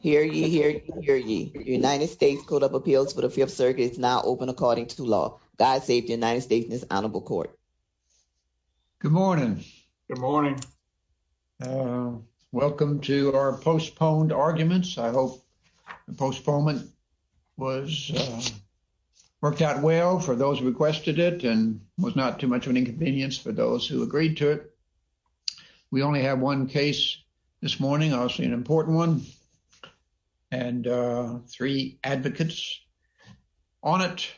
Hear ye, hear ye, hear ye. The United States Code of Appeals for the Fifth Circuit is now open according to law. God save the United States and his honorable court. Good morning. Good morning. Welcome to our postponed arguments. I hope the postponement was worked out well for those who requested it and was not too much of an inconvenience for those who agreed to it. We only have one case this morning, obviously an important one. And three advocates on it.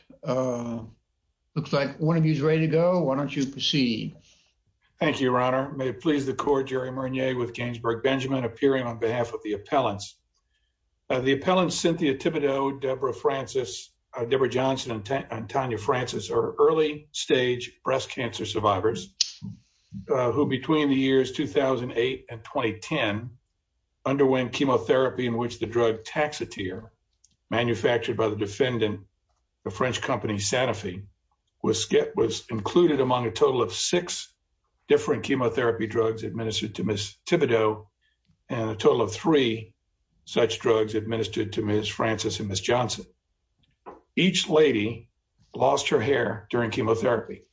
Looks like one of you is ready to go. Why don't you proceed? Thank you, your honor. May it please the court, Jerry Murnier with Gainesburg Benjamin appearing on behalf of the appellants. The appellants Cynthia Thibodeaux, Deborah Francis, Deborah Johnson and Tanya Francis are early stage breast cancer survivors who between the years 2008 and 2010 underwent chemotherapy in which the drug Taxotere manufactured by the defendant, the French company Sanofi, was included among a total of six different chemotherapy drugs administered to Ms. Thibodeaux and a total of three such drugs administered to Ms. Francis and Ms. Johnson. Each lady lost her hair during chemotherapy.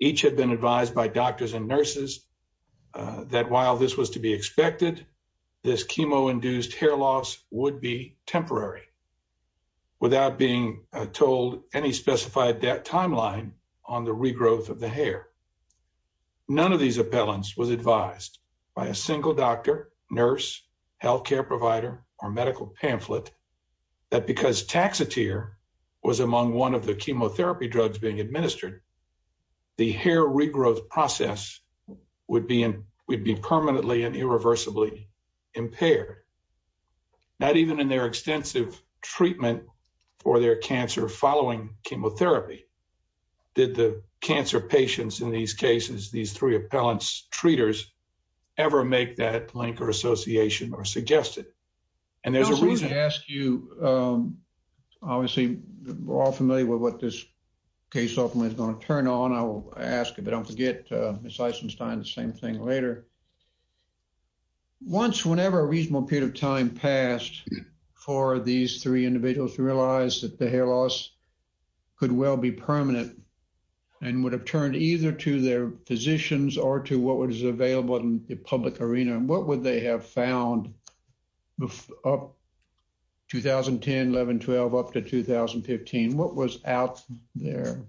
Each had been advised by doctors and nurses that while this was to be expected, this chemo induced hair loss would be temporary without being told any specified timeline on the regrowth of the hair. None of these appellants was advised by a single doctor, nurse, healthcare provider, or medical pamphlet that because Taxotere was among one of the chemotherapy drugs being would be permanently and irreversibly impaired. Not even in their extensive treatment for their cancer following chemotherapy did the cancer patients in these cases, these three appellants treaters, ever make that link or association or suggested. And there's a reason to ask you, obviously, we're all familiar with what this case ultimately is going to turn on. I will ask, but don't forget, Ms. Eisenstein, the same thing later. Once, whenever a reasonable period of time passed for these three individuals to realize that the hair loss could well be permanent and would have turned either to their physicians or to what was available in the public arena, what would they have found up 2010, 11, 12, up to 2015? What was out there?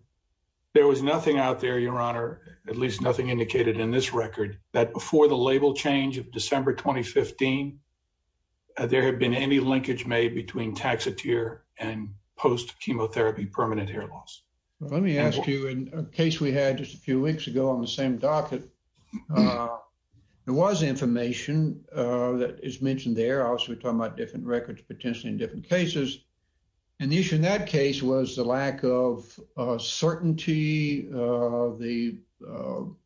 There was nothing out there, your honor, at least nothing indicated in this record that before the label change of December, 2015, there had been any linkage made between Taxotere and post-chemotherapy permanent hair loss. Let me ask you in a case we had just a few weeks ago on the same docket, there was information that is mentioned there. Obviously, we're talking about different records, potentially in different cases. And the issue in that case was the lack of certainty, the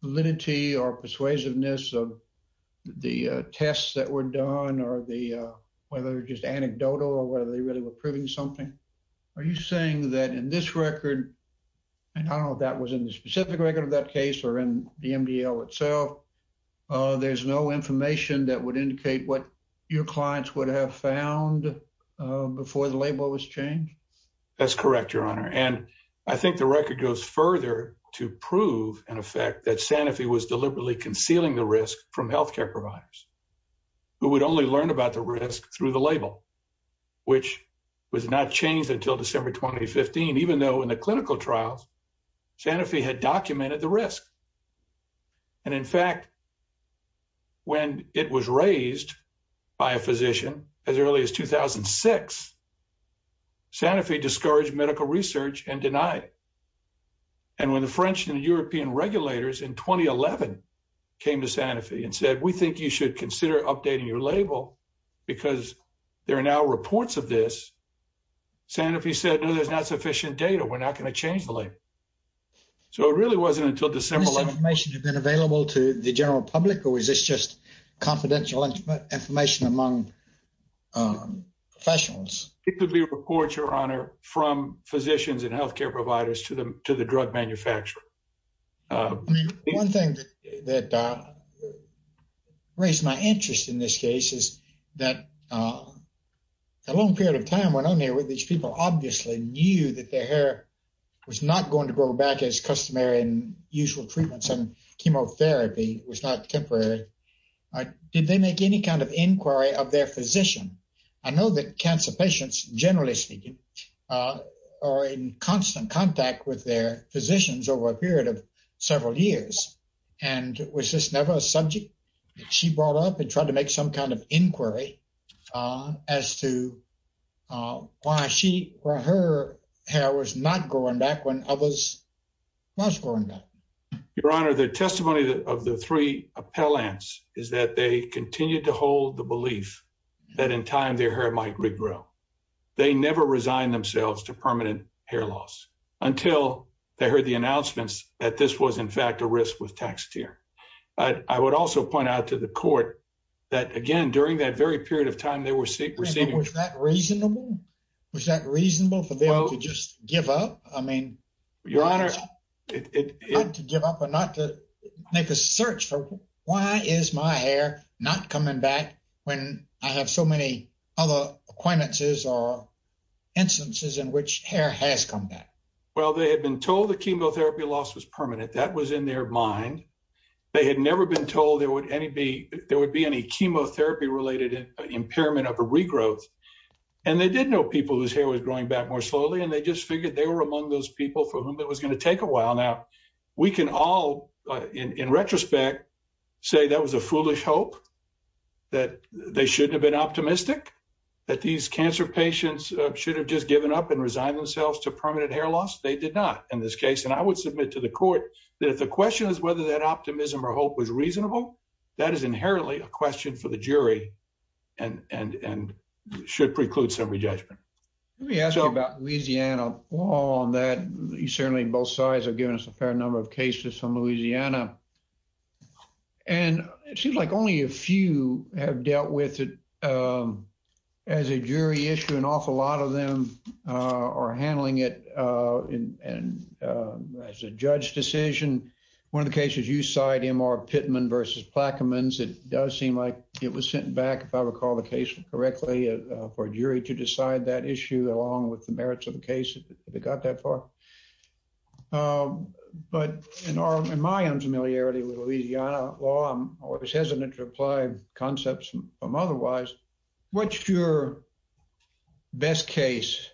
validity or persuasiveness of the tests that were done or the, whether just anecdotal or whether they really were proving something. Are you saying that in this record, and I don't know if that was in the specific record of that case or in the MDL itself, there's no information that would indicate what your clients would have found before the label was changed? That's correct, your honor. And I think the record goes further to prove an effect that Sanofi was deliberately concealing the risk from healthcare providers, who would only learn about the risk through the label, which was not changed until December, 2015, even though in the clinical trials, Sanofi had documented the risk. And in fact, when it was raised by a physician as early as 2006, Sanofi discouraged medical research and denied it. And when the French and European regulators in 2011 came to Sanofi and said, we think you should consider updating your label because there are now reports of this, Sanofi said, no, there's not sufficient data. We're not going to change the label. So it really wasn't until December. Has this information been available to the general public or is this just confidential information among professionals? Specifically reports, your honor, from physicians and healthcare providers to the drug manufacturer. One thing that raised my interest in this case is that a long period of time went on where these people obviously knew that their hair was not going to grow back as customary and usual treatments and chemotherapy was not temporary. Did they make any kind of inquiry of their physician? I know that cancer patients, generally speaking, are in constant contact with their physicians over a period of several years. And was this never a subject that she brought up and tried to make some kind of inquiry as to why her hair was not growing back when others was growing back? Your honor, the testimony of the three appellants is that they continued to hold the belief that in time their hair might regrow. They never resigned themselves to permanent hair loss until they heard the announcements that this was in fact a risk with Taxotere. But I would also point out to the that, again, during that very period of time, they were receiving... Was that reasonable? Was that reasonable for them to just give up? I mean... Your honor, it... Not to give up or not to make a search for why is my hair not coming back when I have so many other acquaintances or instances in which hair has come back? Well, they had been told the chemotherapy loss was permanent. That was in their mind. They had never been told there would be any chemotherapy-related impairment of a regrowth. And they did know people whose hair was growing back more slowly, and they just figured they were among those people for whom it was going to take a while. Now, we can all, in retrospect, say that was a foolish hope, that they shouldn't have been optimistic, that these cancer patients should have just given up and resigned themselves to permanent hair loss. They did not in this case. I would submit to the court that if the question is whether that optimism or hope was reasonable, that is inherently a question for the jury and should preclude summary judgment. Let me ask you about Louisiana law on that. Certainly, both sides have given us a fair number of cases from Louisiana. And it seems like only a few have dealt with it as a jury issue. An awful lot of them are handling it as a judge decision. One of the cases you cite, M.R. Pittman v. Plaquemines, it does seem like it was sent back, if I recall the case correctly, for a jury to decide that issue along with the merits of the case, if it got that far. But in my own familiarity with Louisiana law, I'm always hesitant to apply concepts from otherwise. What's your best case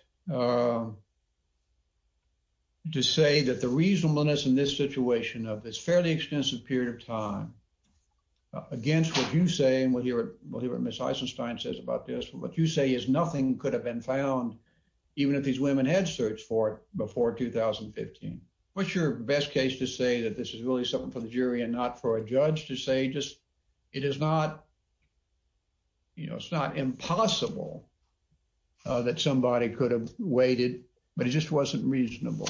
to say that the reasonableness in this situation of this fairly extensive period of time against what you say and what Miss Eisenstein says about this, what you say is nothing could have been found even if these women had searched for it before 2015. What's your best case to say that this is really something for the jury and not for a judge to say just it is not, you know, it's not impossible that somebody could have waited, but it just wasn't reasonable?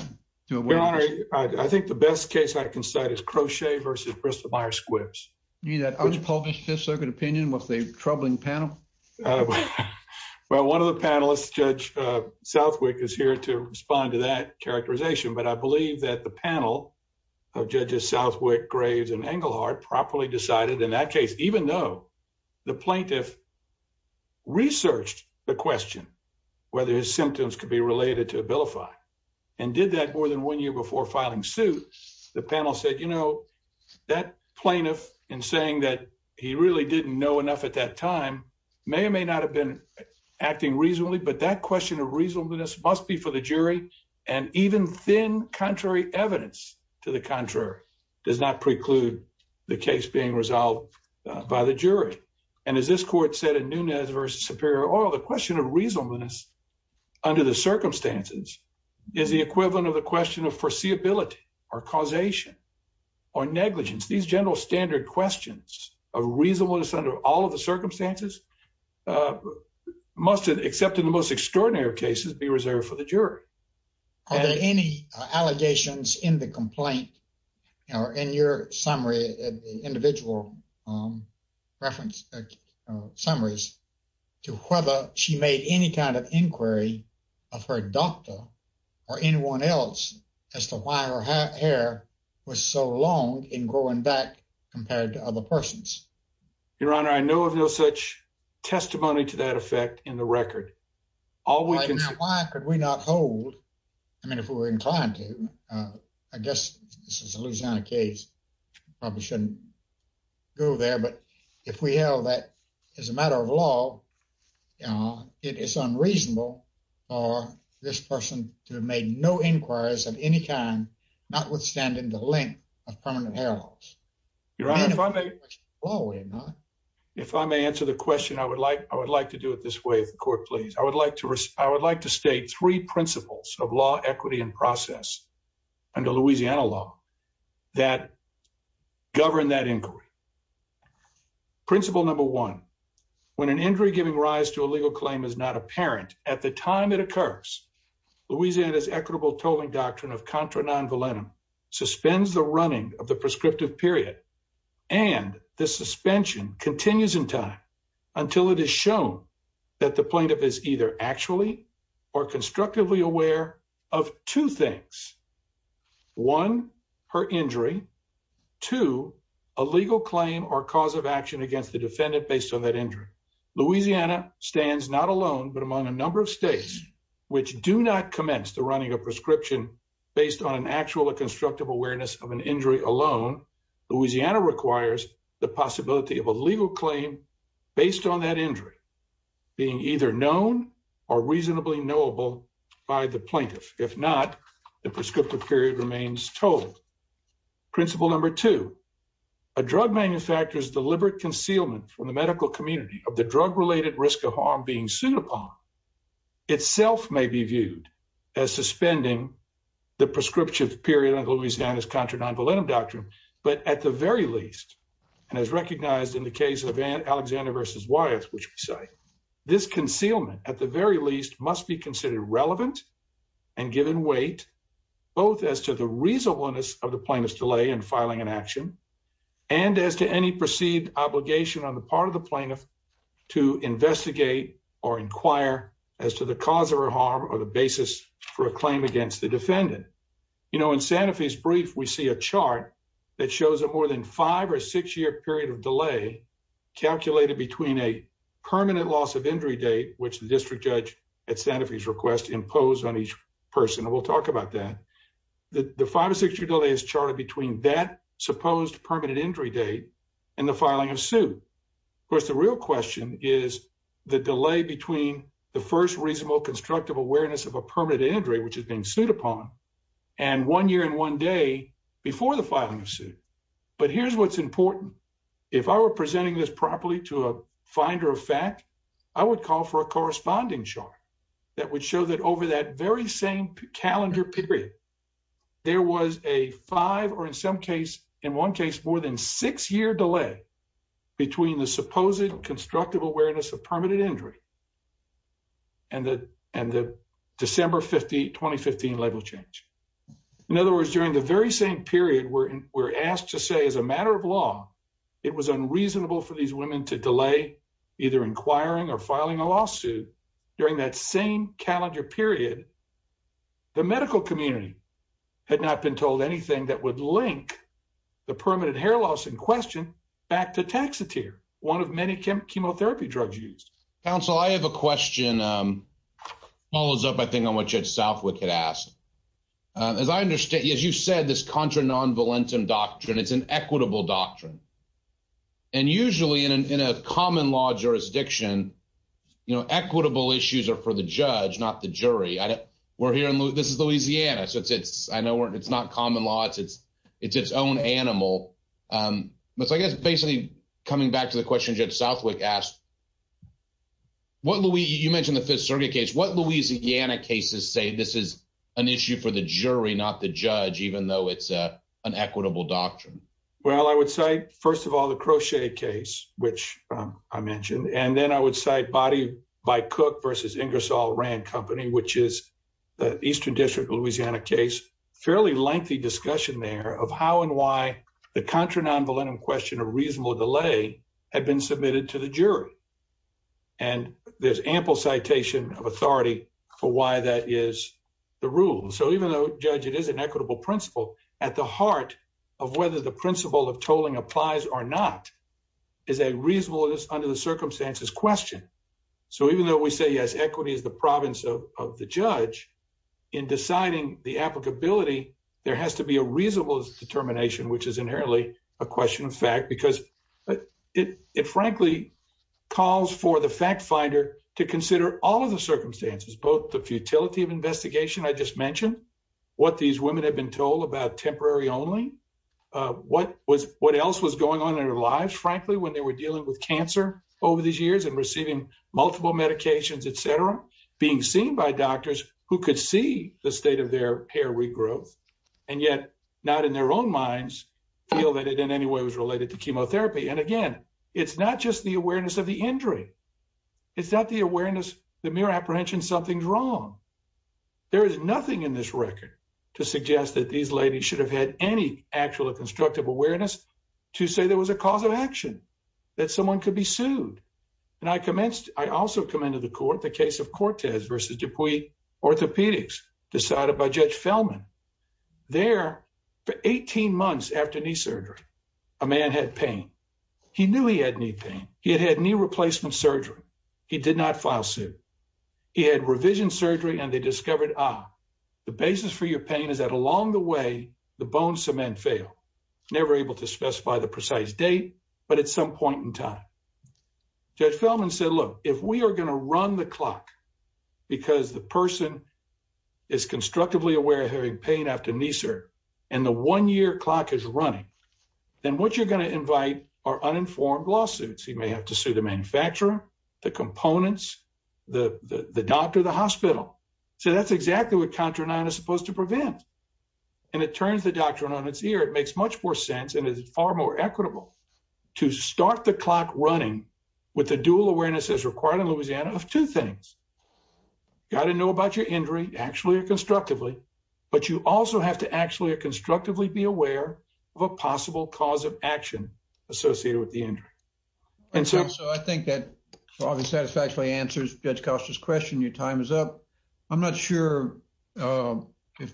I think the best case I can cite is Crochet v. Bristol Myers Squibbs. You mean that unpublished Fifth Circuit opinion was a troubling panel? Well, one of the panelists, Judge Southwick, is here to respond to that characterization. But I Southwick, Graves, and Engelhardt properly decided in that case, even though the plaintiff researched the question, whether his symptoms could be related to Abilify, and did that more than one year before filing suit, the panel said, you know, that plaintiff in saying that he really didn't know enough at that time, may or may not have been acting reasonably. But that question of reasonableness must be for the jury, and even thin contrary evidence to the contrary, does not preclude the case being resolved by the jury. And as this court said in Nunez v. Superior Oil, the question of reasonableness under the circumstances is the equivalent of the question of foreseeability, or causation, or negligence. These general standard questions of reasonableness under all of the circumstances must, except in the most in the complaint, in your summary, individual reference summaries, to whether she made any kind of inquiry of her doctor or anyone else as to why her hair was so long in growing back compared to other persons. Your Honor, I know of no such testimony to that effect in the record. Why could we not hold, I mean, if we were inclined to, I guess this is a Louisiana case, probably shouldn't go there, but if we held that as a matter of law, you know, it is unreasonable for this person to have made no inquiries of any kind, notwithstanding the length of permanent hair loss. Your Honor, if I may answer the question, I would like to do it this way, I would like to state three principles of law, equity, and process under Louisiana law that govern that inquiry. Principle number one, when an injury giving rise to a legal claim is not apparent at the time it occurs, Louisiana's equitable tolling doctrine of contra non volentum suspends the running of the prescriptive period and the suspension continues in time until it is shown that the plaintiff is either actually or constructively aware of two things, one, her injury, two, a legal claim or cause of action against the defendant based on that injury. Louisiana stands not alone, but among a number of states which do not commence the running of prescription based on an actual or constructive awareness of an injury alone, Louisiana requires the possibility of a legal claim based on that injury being either known or reasonably knowable by the plaintiff. If not, the prescriptive period remains told. Principle number two, a drug manufacturer's deliberate concealment from the medical community of the drug-related risk of harm being sued upon itself may be viewed as suspending the prescriptive period Louisiana's contra non volentum doctrine, but at the very least, and as recognized in the case of Alexander versus Wyeth, which we cite, this concealment at the very least must be considered relevant and given weight, both as to the reasonableness of the plaintiff's delay in filing an action and as to any perceived obligation on the part of the plaintiff to investigate or inquire as to the cause of her harm or the basis for a claim against the We see a chart that shows a more than five or six year period of delay calculated between a permanent loss of injury date, which the district judge at Santa Fe's request imposed on each person, and we'll talk about that. The five or six year delay is charted between that supposed permanent injury date and the filing of suit. Of course, the real question is the delay between the first reasonable constructive awareness of a permanent injury, which is being sued upon and one year and one day before the filing of suit. But here's what's important. If I were presenting this properly to a finder of fact, I would call for a corresponding chart that would show that over that very same calendar period, there was a five or in some case, in one case, more than six year delay between the supposed constructive awareness of permanent injury and the December 2015 label change. In other words, during the very same period, we're asked to say as a matter of law, it was unreasonable for these women to delay either inquiring or filing a lawsuit during that same calendar period. The medical community had not been told anything that would link the permanent hair loss in question back to Taxotere, one of many chemotherapy drugs used. Counsel, I have a question that follows up, I think, on what Judge Southwick had asked. As you said, this contra non-valentum doctrine, it's an equitable doctrine. Usually in a common law jurisdiction, equitable issues are for the judge, not the jury. This is Louisiana, so I know it's not common law. It's its own animal. I guess basically coming back to the question Judge Southwick asked, you mentioned the Fifth Circuit case, what Louisiana cases say this is an issue for the jury, not the judge, even though it's an equitable doctrine? Well, I would say, first of all, the Crochet case, which I mentioned, and then I would say Body by Cook versus Ingersoll Rand Company, which is the Eastern District Louisiana case, fairly lengthy discussion there of how and why the contra non-valentum question of reasonable delay had been submitted to the jury. And there's ample citation of authority for why that is the rule. So even though, Judge, it is an equitable principle, at the heart of whether the principle of tolling applies or not is a reasonableness under the circumstances question. So even though we say, yes, equity is the province of the judge, in deciding the applicability, there has to be a reasonable determination, which is inherently a question of fact, because it frankly calls for the fact finder to consider all of the circumstances, both the futility of investigation I just mentioned, what these women have been told about temporary only, what else was going on in their lives, frankly, when they were dealing with cancer over these years and receiving multiple medications, et cetera, being seen by doctors who could see the state of their hair regrowth, and yet not in their own minds feel that it in any way was related to chemotherapy. And again, it's not just the awareness of the injury. It's not the awareness, the mere apprehension something's wrong. There is nothing in this record to suggest that these ladies should have had any actual constructive awareness to say there was a cause of action, that someone could be sued. And I also come into the court, the case of Cortez versus Dupuy Orthopedics decided by Judge Fellman. There, for 18 months after knee surgery, a man had pain. He knew he had knee pain. He had had knee replacement surgery. He did not file suit. He had revision surgery and they discovered, ah, the basis for your pain is that along the way, the bone cement failed. Never able to specify the precise date, but at some time. Judge Fellman said, look, if we are going to run the clock because the person is constructively aware of having pain after knee surgery, and the one year clock is running, then what you're going to invite are uninformed lawsuits. He may have to sue the manufacturer, the components, the doctor, the hospital. So that's exactly what Contra 9 is supposed to prevent. And it turns the doctrine on its ear. It makes much more sense and is far more equitable to start the clock running with the dual awareness as required in Louisiana of two things. Got to know about your injury, actually or constructively, but you also have to actually or constructively be aware of a possible cause of action associated with the injury. And so I think that probably satisfactorily answers Judge Costa's question. Your time is up. I'm not sure if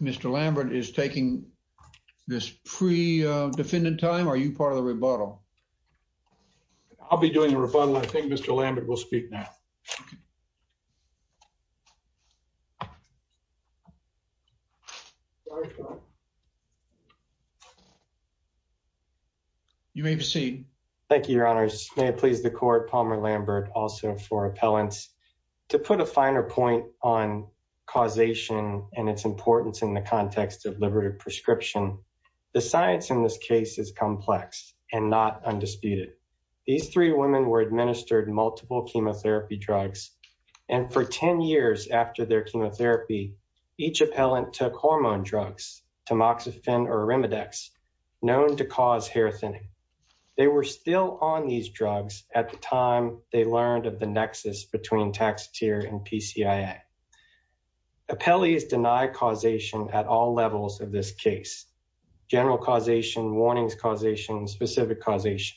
Mr. Lambert is taking this pre-defendant time. Are you part of the rebuttal? I'll be doing the rebuttal. I think Mr. Lambert will speak now. You may proceed. Thank you, Your Honors. May it please the court, Palmer Lambert, also for appellants, to put a finer point on causation and its importance in the context of liberative prescription. The science in this case is complex and not undisputed. These three women were administered multiple chemotherapy drugs. And for 10 years after their chemotherapy, each appellant took hormone drugs, tamoxifen or arimidex, known to cause hair thinning. They were still on these drugs at the time they learned of the nexus between Taxotere and PCIA. Appellees deny causation at all levels of this case. General causation, warnings causation, specific causation.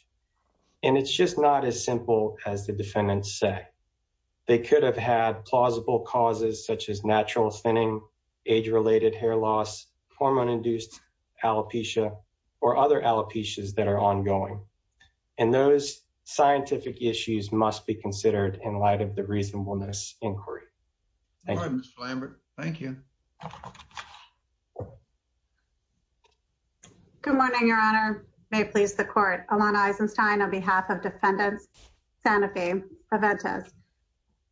And it's just not as simple as the defendants say. They could have had plausible causes such as natural thinning, age-related hair loss, hormone-induced alopecia or other alopecias that are ongoing. And those scientific issues must be considered in light of the reasonableness inquiry. Thank you, Mr. Lambert. Thank you. Good morning, Your Honor. May it please the court. Alana Eisenstein on behalf of defendants, Sanofi, Preventus.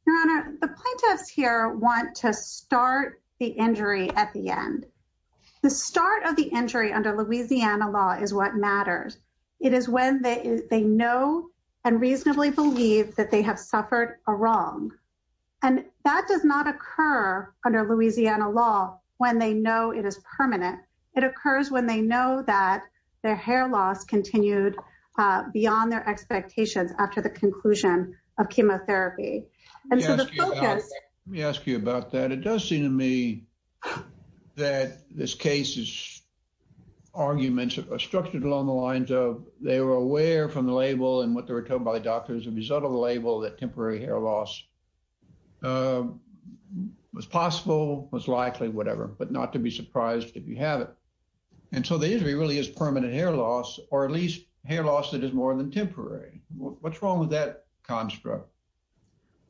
Your Honor, the plaintiffs here want to start the injury at the end. The start of the injury under Louisiana law is what matters. It is when they know and reasonably believe that they have suffered a wrong. And that does not occur under Louisiana law when they know it is permanent. It occurs when they know that their hair loss continued beyond their expectations after the conclusion of chemotherapy. Let me ask you about that. It does seem to me that this case's arguments are structured along the lines of they were aware from the label and what they were told by doctors as a result of the label that temporary hair loss was possible, was likely, whatever, but not to be surprised if you have it. And so the injury really is permanent hair loss or at least hair loss that is more than temporary. What's wrong with that construct?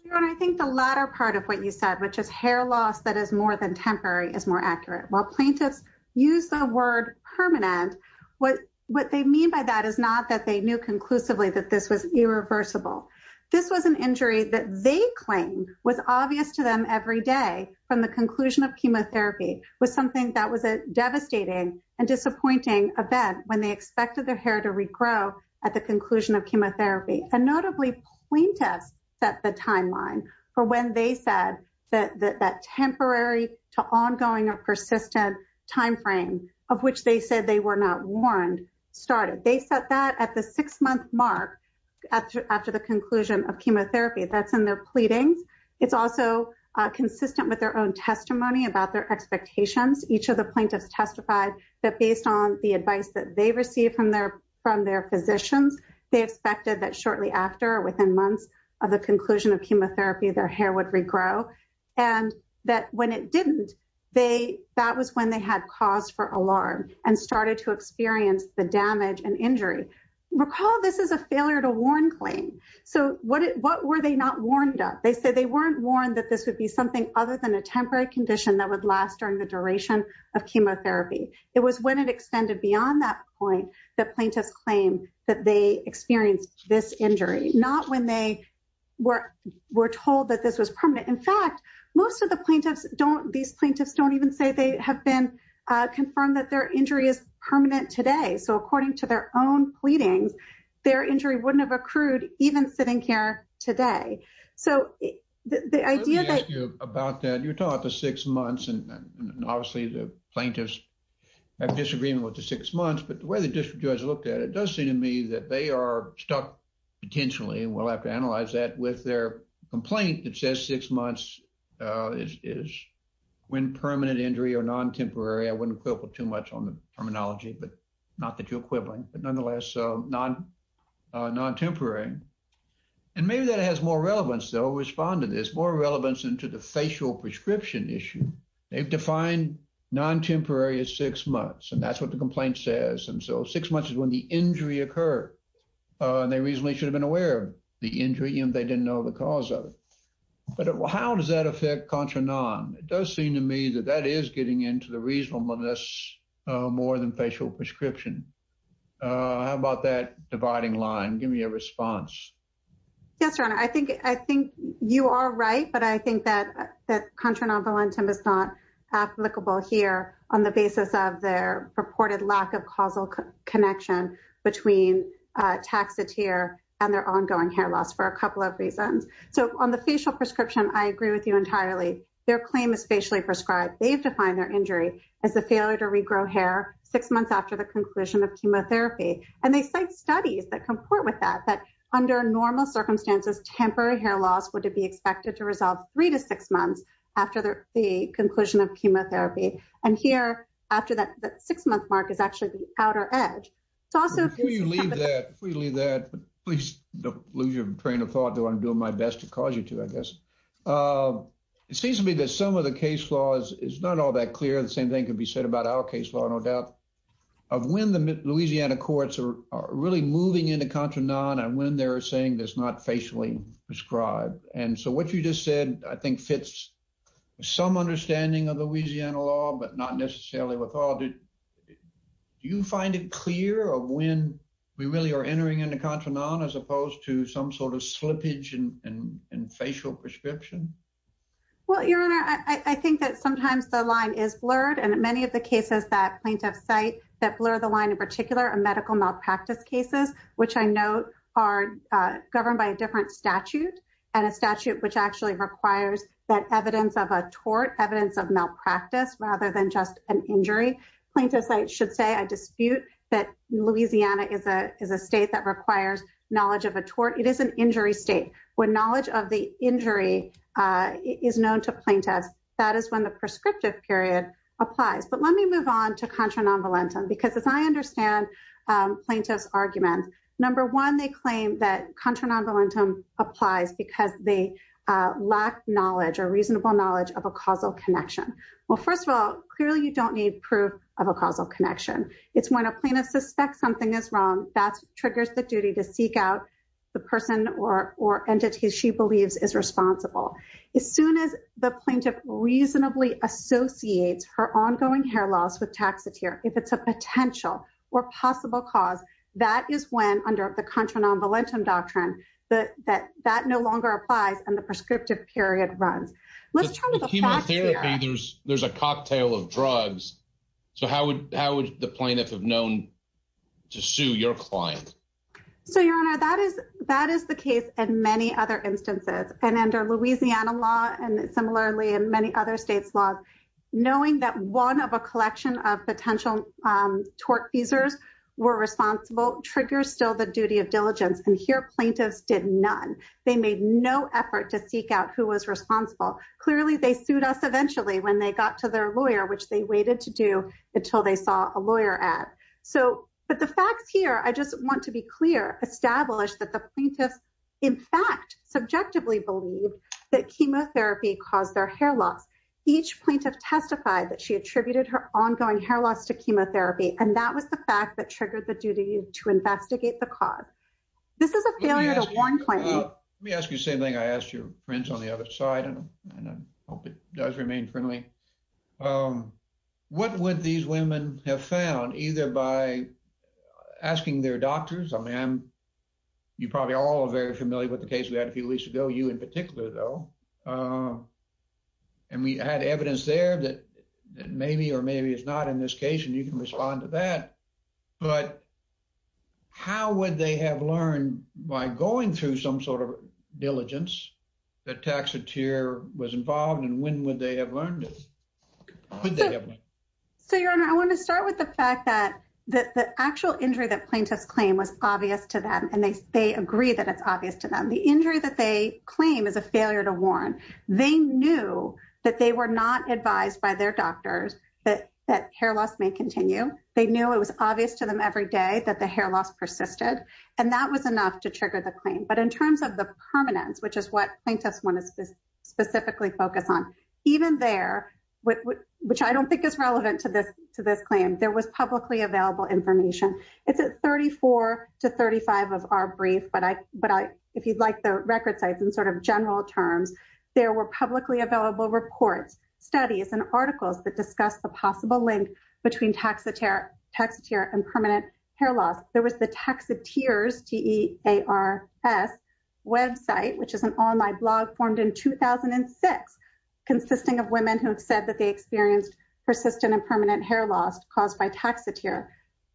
Your Honor, I think the latter part of what you said, which is hair loss that is more than temporary, is more accurate. While plaintiffs use the word permanent, what they mean by that is not that they knew conclusively that this was irreversible. This was an injury that they claim was obvious to them every day from the conclusion of chemotherapy was something that was a devastating and disappointing event when they expected their hair to regrow at the conclusion of chemotherapy. And notably, plaintiffs set the timeline for when they said that temporary to ongoing or persistent timeframe of which they said they were not warned started. They set that at the six-month mark after the conclusion of chemotherapy. That's in their pleadings. It's also consistent with their own testimony about their expectations. Each of the plaintiffs testified that based on the advice that they received from their physicians, they expected that shortly after or within months of the conclusion of chemotherapy, their hair would regrow. And that when it didn't, that was when they had cause for alarm and started to experience the damage and injury. Recall, this is a failure to warn claim. So what were they not warned of? They said they weren't warned that this would be something other than a temporary condition that would last during the duration of chemotherapy. It was when it extended beyond that point that plaintiffs claim that they experienced this injury, not when they were told that this was permanent. In fact, most of the plaintiffs don't, these plaintiffs don't even say they have been confirmed that their injury is permanent today. So according to their own pleadings, their injury wouldn't have accrued even sitting here today. So the idea that... Let me ask you about that. You're talking about the six months and obviously the plaintiffs have disagreement with the six months, but the way the district judge looked at it, it does seem to me that they are stuck potentially, and we'll have to analyze that with their complaint that says six months is when permanent injury or non-temporary, I wouldn't quibble too much on the terminology, but not that you're quibbling, but nonetheless, non-temporary. And maybe that has more relevance though, respond to this, more relevance into the facial prescription issue. They've defined non-temporary as six months, and that's what the complaint says. And so six months is when the injury occurred, and they reasonably should have been aware of the injury, even if they didn't know the cause of it. But how does that affect contra-non? It does seem to me that that is getting into the reasonableness more than facial prescription. How about that dividing line? Give me a response. Yes, Your Honor. I think you are right, but I think that contra-nonvalentum is not applicable here on the basis of their purported lack of causal connection between a taxiteer and their ongoing hair loss for a couple of reasons. So on the facial prescription, I agree with you entirely. Their claim is facially prescribed. They've defined their injury as a failure to regrow hair six months after the conclusion of chemotherapy. And they cite studies that comport with that, that under normal circumstances, temporary hair loss would be expected to resolve three to six months after the conclusion of chemotherapy. And here, after that six-month mark is actually the outer edge. Before you leave that, please don't lose your train of thought. I'm doing my best to cause you to, I guess. It seems to me that some of the case laws is not all that clear. The same thing could be said about our case law, no doubt. Of when the Louisiana courts are really moving into contra-non and when they're saying there's not facially prescribed. And so what you just said, I think fits some understanding of Louisiana law, but not necessarily with all. Do you find it clear of when we really are entering into contra-non as opposed to some sort of slippage in facial prescription? Well, Your Honor, I think that plaintiff's site that blur the line in particular, a medical malpractice cases, which I note are governed by a different statute and a statute which actually requires that evidence of a tort, evidence of malpractice rather than just an injury. Plaintiff's site should say a dispute that Louisiana is a state that requires knowledge of a tort. It is an injury state. When knowledge of the injury is known to plaintiffs, that is when the prescriptive period applies. But let me move on to contra-nonvolentum because as I understand plaintiff's argument, number one, they claim that contra-nonvolentum applies because they lack knowledge or reasonable knowledge of a causal connection. Well, first of all, clearly you don't need proof of a causal connection. It's when a plaintiff suspects something is wrong that triggers the duty to seek out the person or entity she If it's a potential or possible cause, that is when under the contra-nonvolentum doctrine that no longer applies and the prescriptive period runs. Let's turn to the facts here. There's a cocktail of drugs. So how would the plaintiff have known to sue your client? So, Your Honor, that is the case in many other instances and under Louisiana law and similarly in many other states' laws. Knowing that one of a collection of potential tort feasors were responsible triggers still the duty of diligence. And here, plaintiffs did none. They made no effort to seek out who was responsible. Clearly, they sued us eventually when they got to their lawyer, which they waited to do until they saw a lawyer at. But the facts here, I just want to be clear, establish that the plaintiffs in fact subjectively believed that chemotherapy caused their hair loss. Each plaintiff testified that she attributed her ongoing hair loss to chemotherapy. And that was the fact that triggered the duty to investigate the cause. This is a failure to warn. Let me ask you the same thing I asked your friends on the other side and I hope it does remain friendly. What would these women have found either by asking their doctors? I mean, you probably all are very familiar with the case we had a few weeks ago, you in particular though. And we had evidence there that maybe or maybe it's not in this case and you can respond to that. But how would they have learned by going through some sort of diligence that Taxotere was involved in? When would they have learned it? So, Your Honor, I want to start with the fact that the actual injury that plaintiffs claim was obvious to them and they agree that it's obvious to them. The injury that they claim is a failure to warn. They knew that they were not advised by their doctors that hair loss may continue. They knew it was obvious to them every day that the hair loss persisted. And that was enough to trigger the claim. But in terms of the permanence, which is what plaintiffs want to specifically focus on, even there, which I don't think is relevant to this claim, there was publicly to 35 of our brief, but if you'd like the record sites in sort of general terms, there were publicly available reports, studies, and articles that discuss the possible link between Taxotere and permanent hair loss. There was the Taxotere's website, which is an online blog formed in 2006, consisting of women who have said that they experienced persistent and permanent hair loss caused by Taxotere.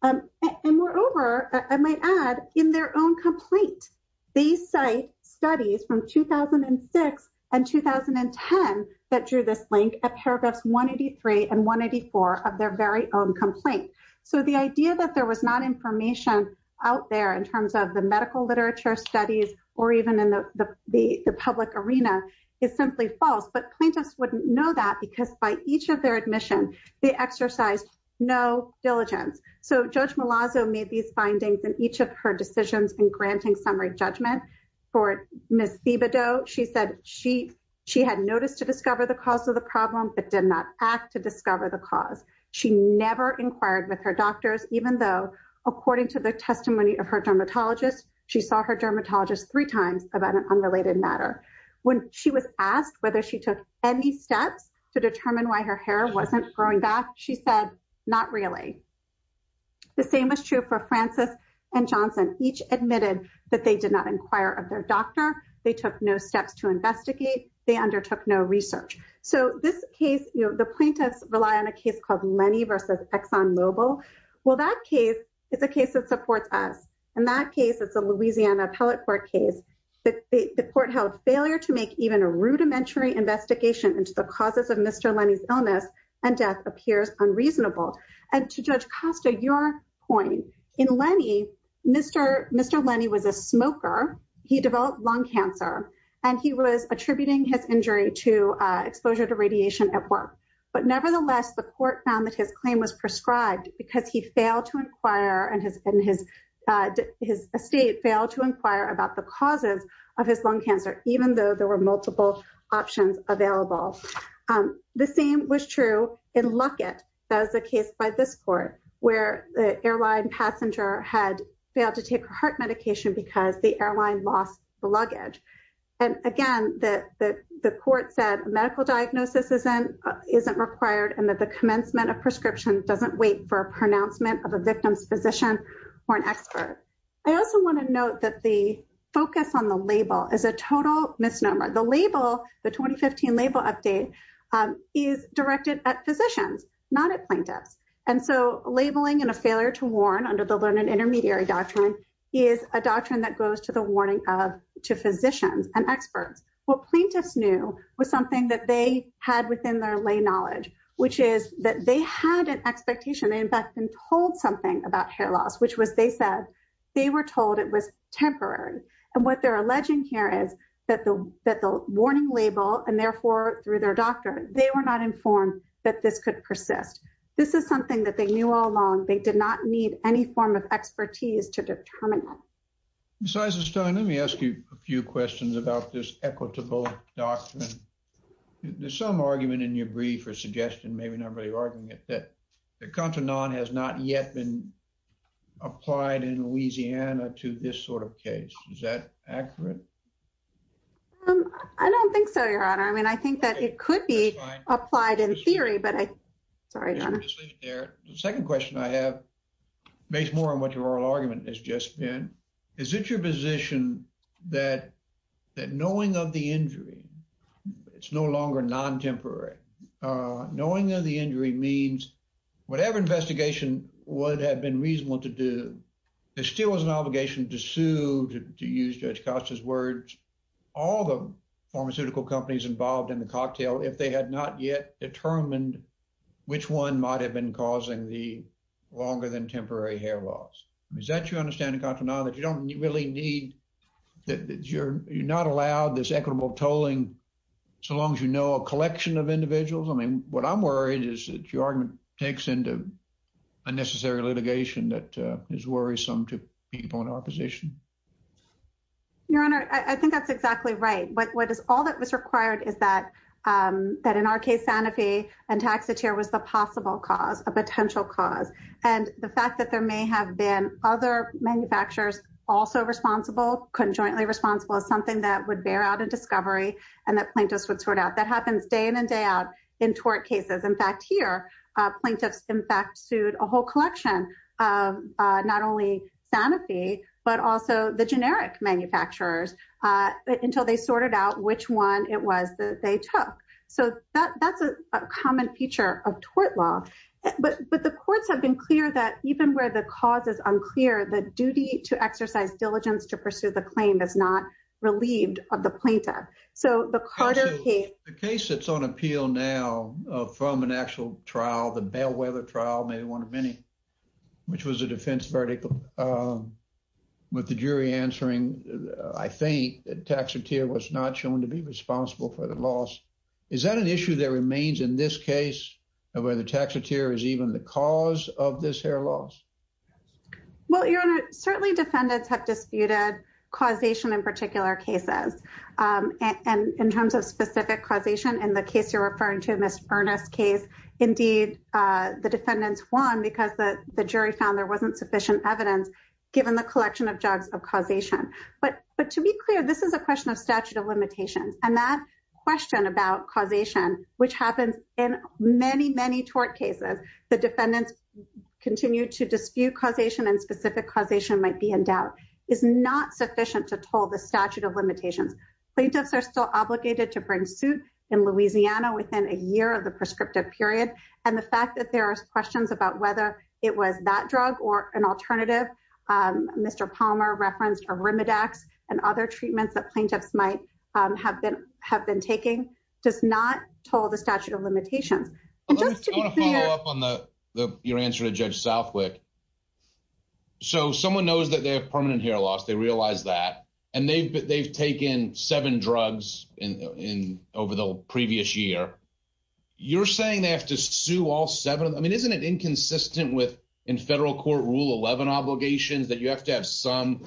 And moreover, I might add, in their own complaint, they cite studies from 2006 and 2010 that drew this link at paragraphs 183 and 184 of their very own complaint. So, the idea that there was not information out there in terms of the medical literature studies or even in the public arena is simply false. But plaintiffs wouldn't know that because by each of their admission, they exercised no diligence. So, Judge Malazzo made these findings in each of her decisions in granting summary judgment for Ms. Thibodeau. She said she had noticed to discover the cause of the problem, but did not act to discover the cause. She never inquired with her doctors, even though, according to the testimony of her dermatologist, she saw her dermatologist three times about an unrelated matter. When she was asked whether she took any steps to determine why her hair wasn't growing back, she said, not really. The same is true for Francis and Johnson. Each admitted that they did not inquire of their doctor. They took no steps to investigate. They undertook no research. So, this case, you know, the plaintiffs rely on a case called Lenny versus Exxon Mobil. Well, that case is a case that supports us. In that case, it's a Louisiana Appellate Court case. The court held failure to make even a rudimentary investigation into the illness, and death appears unreasonable. And to Judge Costa, your point, in Lenny, Mr. Lenny was a smoker. He developed lung cancer, and he was attributing his injury to exposure to radiation at work. But nevertheless, the court found that his claim was prescribed because he failed to inquire and his estate failed to inquire about the causes of his lung cancer, even though there were multiple options available. The same was true in Luckett. That was a case by this court, where the airline passenger had failed to take her heart medication because the airline lost the luggage. And again, the court said a medical diagnosis isn't required and that the commencement of prescription doesn't wait for a pronouncement of a victim's physician or an expert. I also want to note that the focus on the label is a total misnomer. The label, the 2015 label update, is directed at physicians, not at plaintiffs. And so labeling and a failure to warn under the learned intermediary doctrine is a doctrine that goes to the warning of to physicians and experts. What plaintiffs knew was something that they had within their lay knowledge, which is that they had an expectation. In fact, they told something about hair loss, which was, they said, they were told it was temporary. And what they're alleging here is that the warning label, and therefore through their doctor, they were not informed that this could persist. This is something that they knew all along. They did not need any form of expertise to determine. Besides this time, let me ask you a few questions about this equitable doctrine. There's some argument in your brief or suggestion, maybe not really arguing it, that the contra non has not yet been applied in Louisiana to this sort of case. Is that accurate? I don't think so, your honor. I mean, I think that it could be applied in theory, but I, sorry, your honor. The second question I have, based more on what your oral argument has just been, is it your position that knowing of the injury, it's no longer non-temporary, knowing that the injury means whatever investigation would have been reasonable to do, there still was an obligation to sue, to use Judge Costa's words, all the pharmaceutical companies involved in the cocktail, if they had not yet determined which one might have been contra non, that you don't really need, that you're not allowed this equitable tolling, so long as you know a collection of individuals. I mean, what I'm worried is that your argument takes into unnecessary litigation that is worrisome to people in our position. Your honor, I think that's exactly right. What is, all that was required is that, that in our case, Sanofi and Taxotere was the possible cause, a potential cause. And the fact that there may have been other manufacturers also responsible, conjointly responsible, is something that would bear out a discovery, and that plaintiffs would sort out. That happens day in and day out in tort cases. In fact, here, plaintiffs, in fact, sued a whole collection of not only Sanofi, but also the generic manufacturers, until they sorted out which one it was that they took. So that's a common feature of tort law. But the courts have been clear that even where the cause is unclear, the duty to exercise diligence to pursue the claim is not relieved of the plaintiff. So the Carter case... The case that's on appeal now from an actual trial, the Bellwether trial, maybe one of many, which was a defense verdict, with the jury answering, I think, that Taxotere was not shown to be responsible for the loss. Is that an issue that remains in this case, where the Taxotere is even the cause of this hair loss? Well, Your Honor, certainly defendants have disputed causation in particular cases. And in terms of specific causation, in the case you're referring to, Ms. Earnest's case, indeed, the defendants won because the jury found there wasn't sufficient evidence, given the collection of jugs of causation. But to be clear, this is a question of statute of limitations. Plaintiffs are still obligated to bring suit in Louisiana within a year of the prescriptive period. And the fact that there are questions about whether it was that drug or an alternative, Mr. Palmer referenced Arimidex and other treatments that plaintiffs might have been taking, does not toll the statute of limitations. I want to follow up on your answer to Judge Southwick. So someone knows that they have permanent hair loss, they realize that, and they've taken seven drugs over the previous year. You're saying they have to sue all seven? I mean, isn't it inconsistent with, in federal court rule 11 obligations, that you have to have some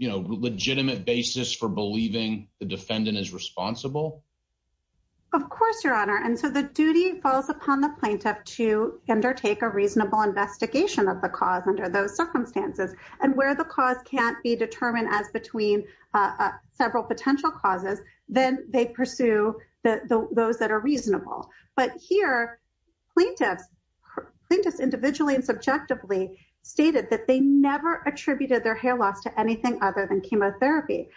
legitimate basis for believing the defendant is responsible? Of course, Your Honor. And so the duty falls upon the plaintiff to undertake a reasonable investigation of the cause under those circumstances. And where the cause can't be determined as between several potential causes, then they pursue those that are reasonable. But here, plaintiffs individually and subjectively stated that they never attributed their hair loss to anything other than chemotherapy.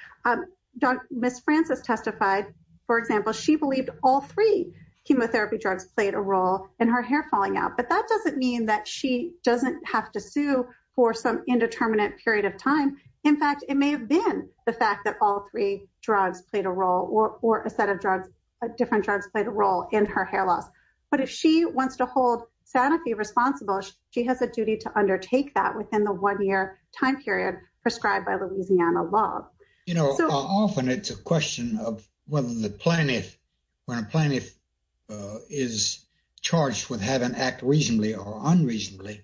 Ms. Francis testified, for example, she believed all three chemotherapy drugs played a role in her hair falling out. But that doesn't mean that she doesn't have to sue for some indeterminate period of time. In fact, it may have been the fact that all three drugs played a role or a set of drugs, different drugs played a role in her hair loss. But if she wants to hold Sanofi responsible, she has a duty to time period prescribed by Louisiana law. You know, often it's a question of whether the plaintiff, when a plaintiff is charged with having act reasonably or unreasonably,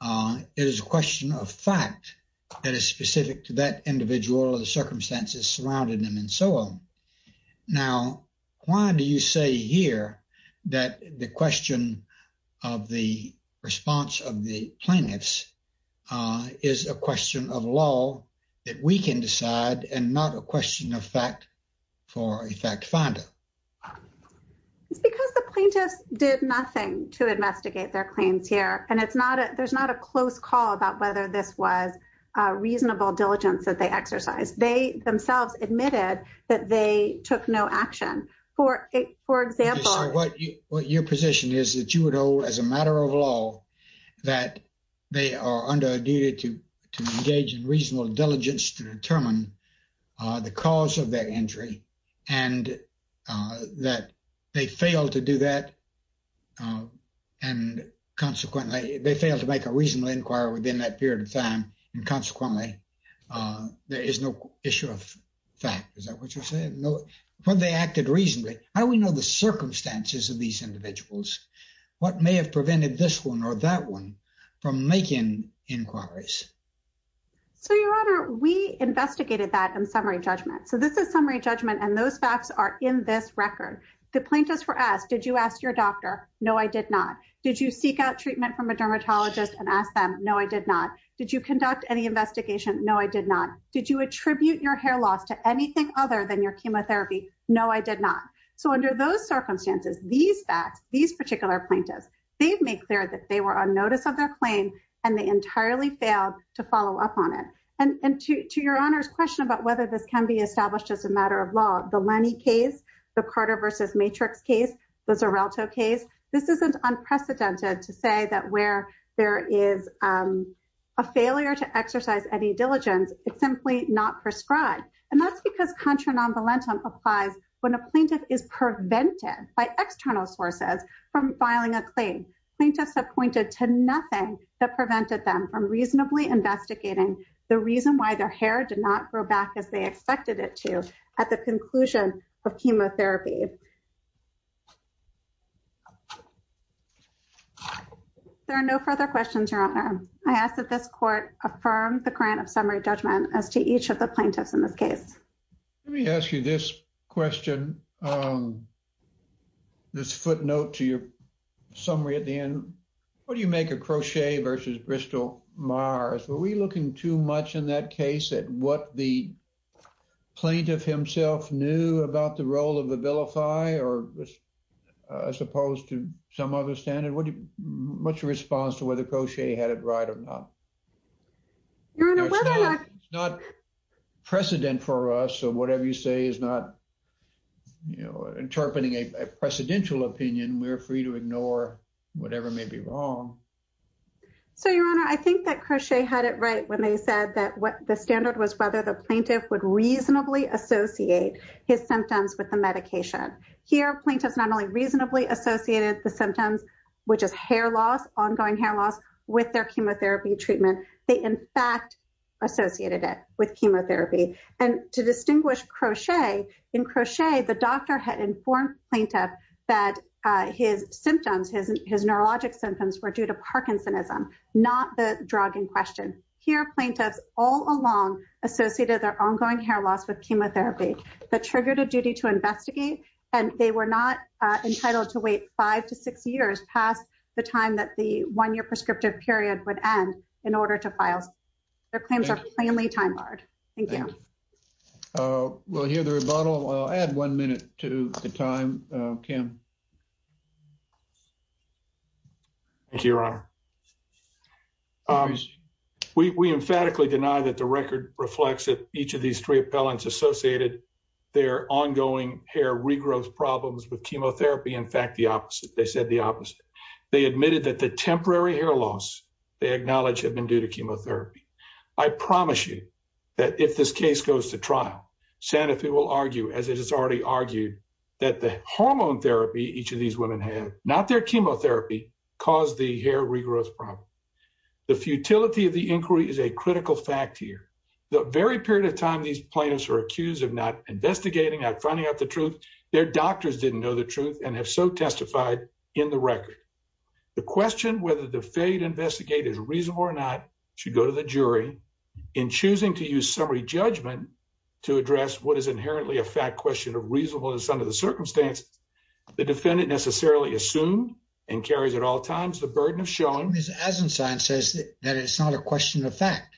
it is a question of fact that is specific to that individual or the circumstances surrounding them and so on. Now, why do you say here that the question of the response of the plaintiffs is a question of law that we can decide and not a question of fact for a fact finder? It's because the plaintiffs did nothing to investigate their claims here. And there's not a close call about whether this was a reasonable diligence that they exercised. They themselves admitted that they took no action. For example, what your position is that you would hold as a matter of law that they are under a duty to engage in reasonable diligence to determine the cause of their injury and that they failed to do that. And consequently, they failed to make a reasonable inquiry within that period of time. And consequently, there is no issue of fact. Is that what you're saying? When they acted reasonably, how do we know the circumstances of these individuals? What may have prevented this one or that one from making inquiries? So, Your Honor, we investigated that in summary judgment. So this is summary judgment and those facts are in this record. The plaintiffs were asked, did you ask your doctor? No, I did not. Did you seek out treatment from a dermatologist and ask them? No, I did not. Did you conduct any investigation? No, I did not. Did you attribute your hair loss to anything other than your chemotherapy? No, I did not. So under those circumstances, these facts, these particular plaintiffs, they've made clear that they were on notice of their claim and they entirely failed to follow up on it. And to Your Honor's question about whether this can be established as a matter of law, the Lenny case, the Carter versus Matrix case, the Zarelto case, this isn't unprecedented to say that where there is a failure to exercise any diligence, it's simply not prescribed. And that's because contra non volentem applies when a plaintiff is prevented by external sources from filing a claim. Plaintiffs have pointed to nothing that prevented them from reasonably investigating the reason why their hair did not grow back as they expected it to at the conclusion of chemotherapy. There are no further questions, Your Honor. I ask that this court affirm the grant of summary judgment as to each of the plaintiffs in this case. Let me ask you this question. This footnote to your summary at the end, what do you make a crochet versus Bristol Mars? Were we looking too much in that case at what the plaintiff himself knew about the role of the vilify or as opposed to some other standard? What's your response to whether Crochet had it right or not? It's not precedent for us. So whatever you say is not, you know, interpreting a precedential opinion. We're free to ignore whatever may be wrong. So, Your Honor, I think that Crochet had it right when they said that what the standard was, whether the plaintiff would reasonably associate his symptoms with the medication here, plaintiffs not only reasonably associated the symptoms, which is hair loss, ongoing hair loss with their chemotherapy treatment. They, in fact, associated it with chemotherapy. And to distinguish Crochet in Crochet, the doctor had informed plaintiff that his symptoms, his neurologic symptoms were Parkinsonism, not the drug in question here. Plaintiffs all along associated their ongoing hair loss with chemotherapy that triggered a duty to investigate. And they were not entitled to wait five to six years past the time that the one year prescriptive period would end in order to file. Their claims are plainly time hard. Thank you. We'll hear the rebuttal. I'll add one minute to the time, Kim. Thank you, Your Honor. We emphatically deny that the record reflects that each of these three appellants associated their ongoing hair regrowth problems with chemotherapy. In fact, the opposite. They said the opposite. They admitted that the temporary hair loss they acknowledged had been due to chemotherapy. I promise you that if this case goes to trial, Sanofi will argue, as it has already argued, that the hormone therapy each of these women had, not their chemotherapy, caused the hair regrowth problem. The futility of the inquiry is a critical fact here. The very period of time these plaintiffs were accused of not investigating, not finding out the truth, their doctors didn't know the truth and have so testified in the record. The question whether the failure to investigate is reasonable or not should go to the jury. In choosing to use summary judgment to address what is inherently a fact question of reasonableness under the circumstance, the defendant necessarily assumed and carries at all times the burden of showing. Ms. Azenstein says that it's not a question of fact,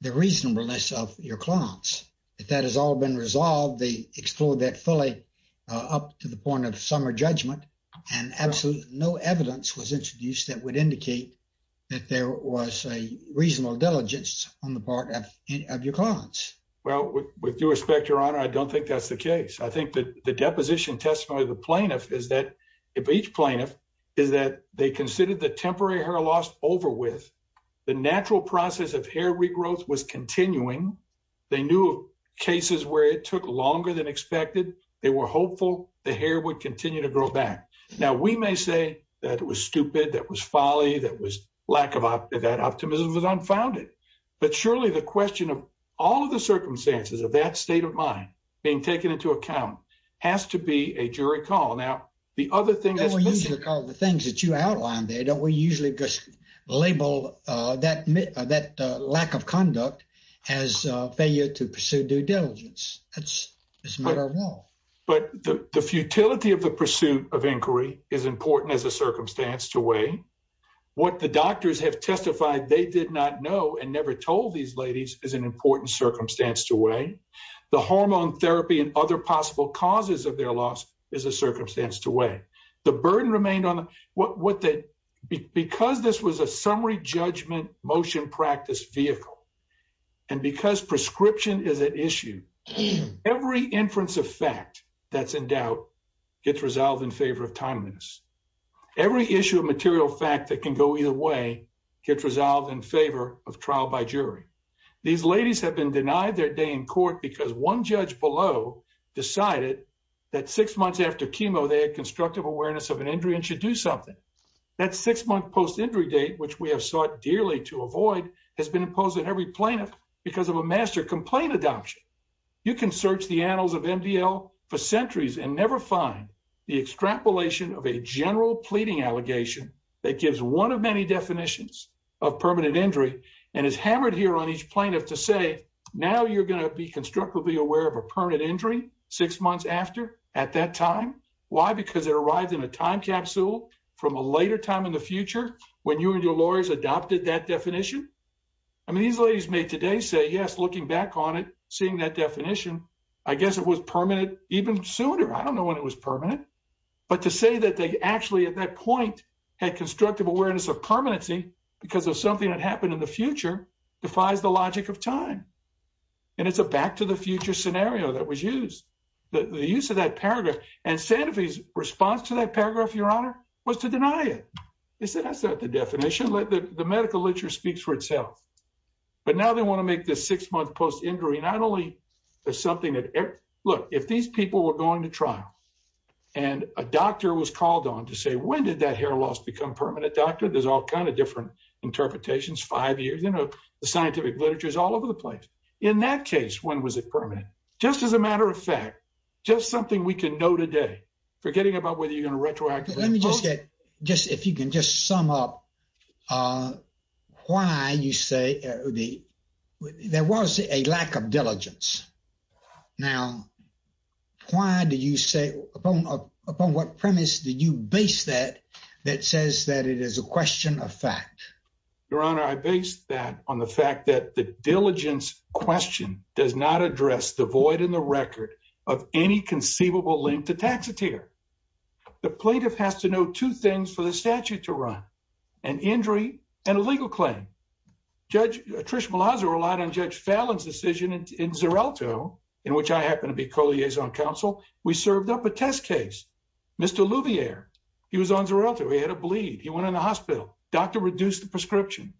the reasonableness of your clients. If that has all been resolved, they explored that fully up to the point of summer judgment and absolutely no evidence was introduced that would indicate that there was a reasonable diligence on the part of your clients. Well, with due respect, your honor, I don't think that's the case. I think that the deposition testimony of the plaintiff is that if each plaintiff is that they considered the temporary hair loss over with, the natural process of hair regrowth was continuing. They knew of cases where it took longer than expected. They were hopeful the hair would continue to grow back. Now, we may say that it was stupid, that was folly, that was but surely the question of all of the circumstances of that state of mind being taken into account has to be a jury call. Now, the other thing that we usually call the things that you outlined there, don't we usually just label that that lack of conduct as a failure to pursue due diligence? That's a matter of law. But the futility of the pursuit of inquiry is important as a circumstance to weigh. What the doctors have testified they did not know and never told these ladies is an important circumstance to weigh. The hormone therapy and other possible causes of their loss is a circumstance to weigh. The burden remained on them. Because this was a summary judgment motion practice vehicle and because prescription is an issue, every inference of fact that's in this, every issue of material fact that can go either way gets resolved in favor of trial by jury. These ladies have been denied their day in court because one judge below decided that six months after chemo they had constructive awareness of an injury and should do something. That six month post-injury date which we have sought dearly to avoid has been imposed on every plaintiff because of a master complaint adoption. You can search the annals of MDL for centuries and never find the extrapolation of a general pleading allegation that gives one of many definitions of permanent injury and is hammered here on each plaintiff to say now you're going to be constructively aware of a permanent injury six months after at that time. Why? Because it arrived in a time capsule from a later time in the future when you and your lawyers adopted that definition. I mean these ladies may today say yes looking back on it seeing that definition I guess it was even sooner. I don't know when it was permanent but to say that they actually at that point had constructive awareness of permanency because of something that happened in the future defies the logic of time and it's a back to the future scenario that was used. The use of that paragraph and Sanofi's response to that paragraph, your honor, was to deny it. They said that's not the definition. The medical literature speaks for itself but now they want to make this six months post-injury not only as something that look if these people were going to trial and a doctor was called on to say when did that hair loss become permanent doctor? There's all kind of different interpretations five years you know the scientific literature is all over the place. In that case when was it permanent? Just as a matter of fact just something we can know today forgetting about whether you're going to retroactively. Let me just get just if you can just sum up uh why you say the there was a lack of diligence. Now why do you say upon upon what premise did you base that that says that it is a question of fact? Your honor, I based that on the fact that the diligence question does not address the void in the record of any conceivable link to taxatier. The plaintiff has to know two things for the statute to run an injury and a legal claim. Judge Trish Malaza relied on Judge Fallon's decision in Xarelto in which I happen to be co-liaison counsel. We served up a test case Mr. Louvier. He was on Xarelto. He had a bleed. He went in the hospital. Doctor reduced the prescription.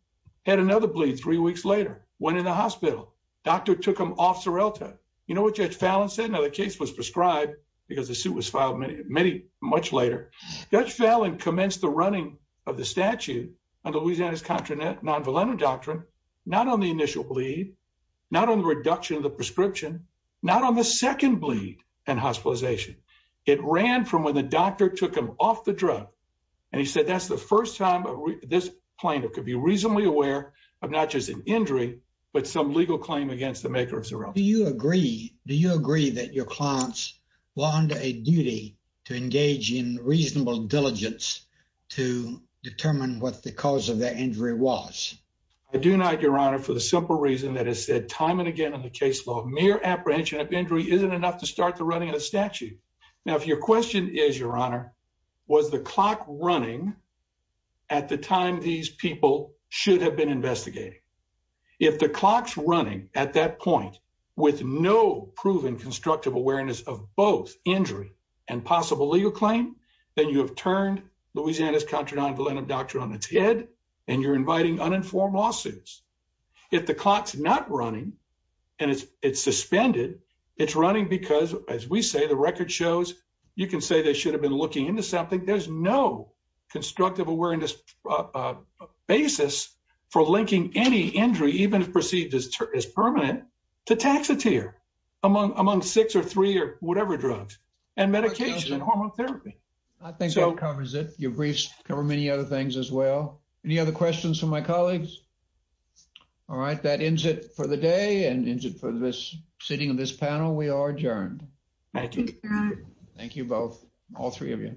Had another bleed three weeks later. Went in the hospital. Doctor took him off Xarelto. You know what Judge Fallon said? Now the case was prescribed because the suit was filed many much later. Judge Fallon commenced the running of the statute on Louisiana's contra non-valent doctrine not on the initial bleed, not on the reduction of the prescription, not on the second bleed and hospitalization. It ran from when the doctor took him off the drug and he said that's the first time this plaintiff could be reasonably aware of not just an injury but some legal claim against the maker of Xarelto. Do you agree do you agree that your clients were under a duty to engage in reasonable diligence to determine what the cause of their injury was? I do not your honor for the simple reason that it said time and again in the case law mere apprehension of injury isn't enough to start the running of the statute. Now if your question is your honor was the clock running at the time these people should have been investigating? If the clock's that point with no proven constructive awareness of both injury and possible legal claim then you have turned Louisiana's contra non-valent doctrine on its head and you're inviting uninformed lawsuits. If the clock's not running and it's suspended it's running because as we say the record shows you can say they should have been looking into something. There's no constructive awareness uh basis for linking any injury even if perceived as permanent to taxateer among among six or three or whatever drugs and medication and hormone therapy. I think that covers it your briefs cover many other things as well. Any other questions for my colleagues? All right that ends it for the day and ends it for this sitting of this panel we are adjourned. Thank you. Thank you both all three of you.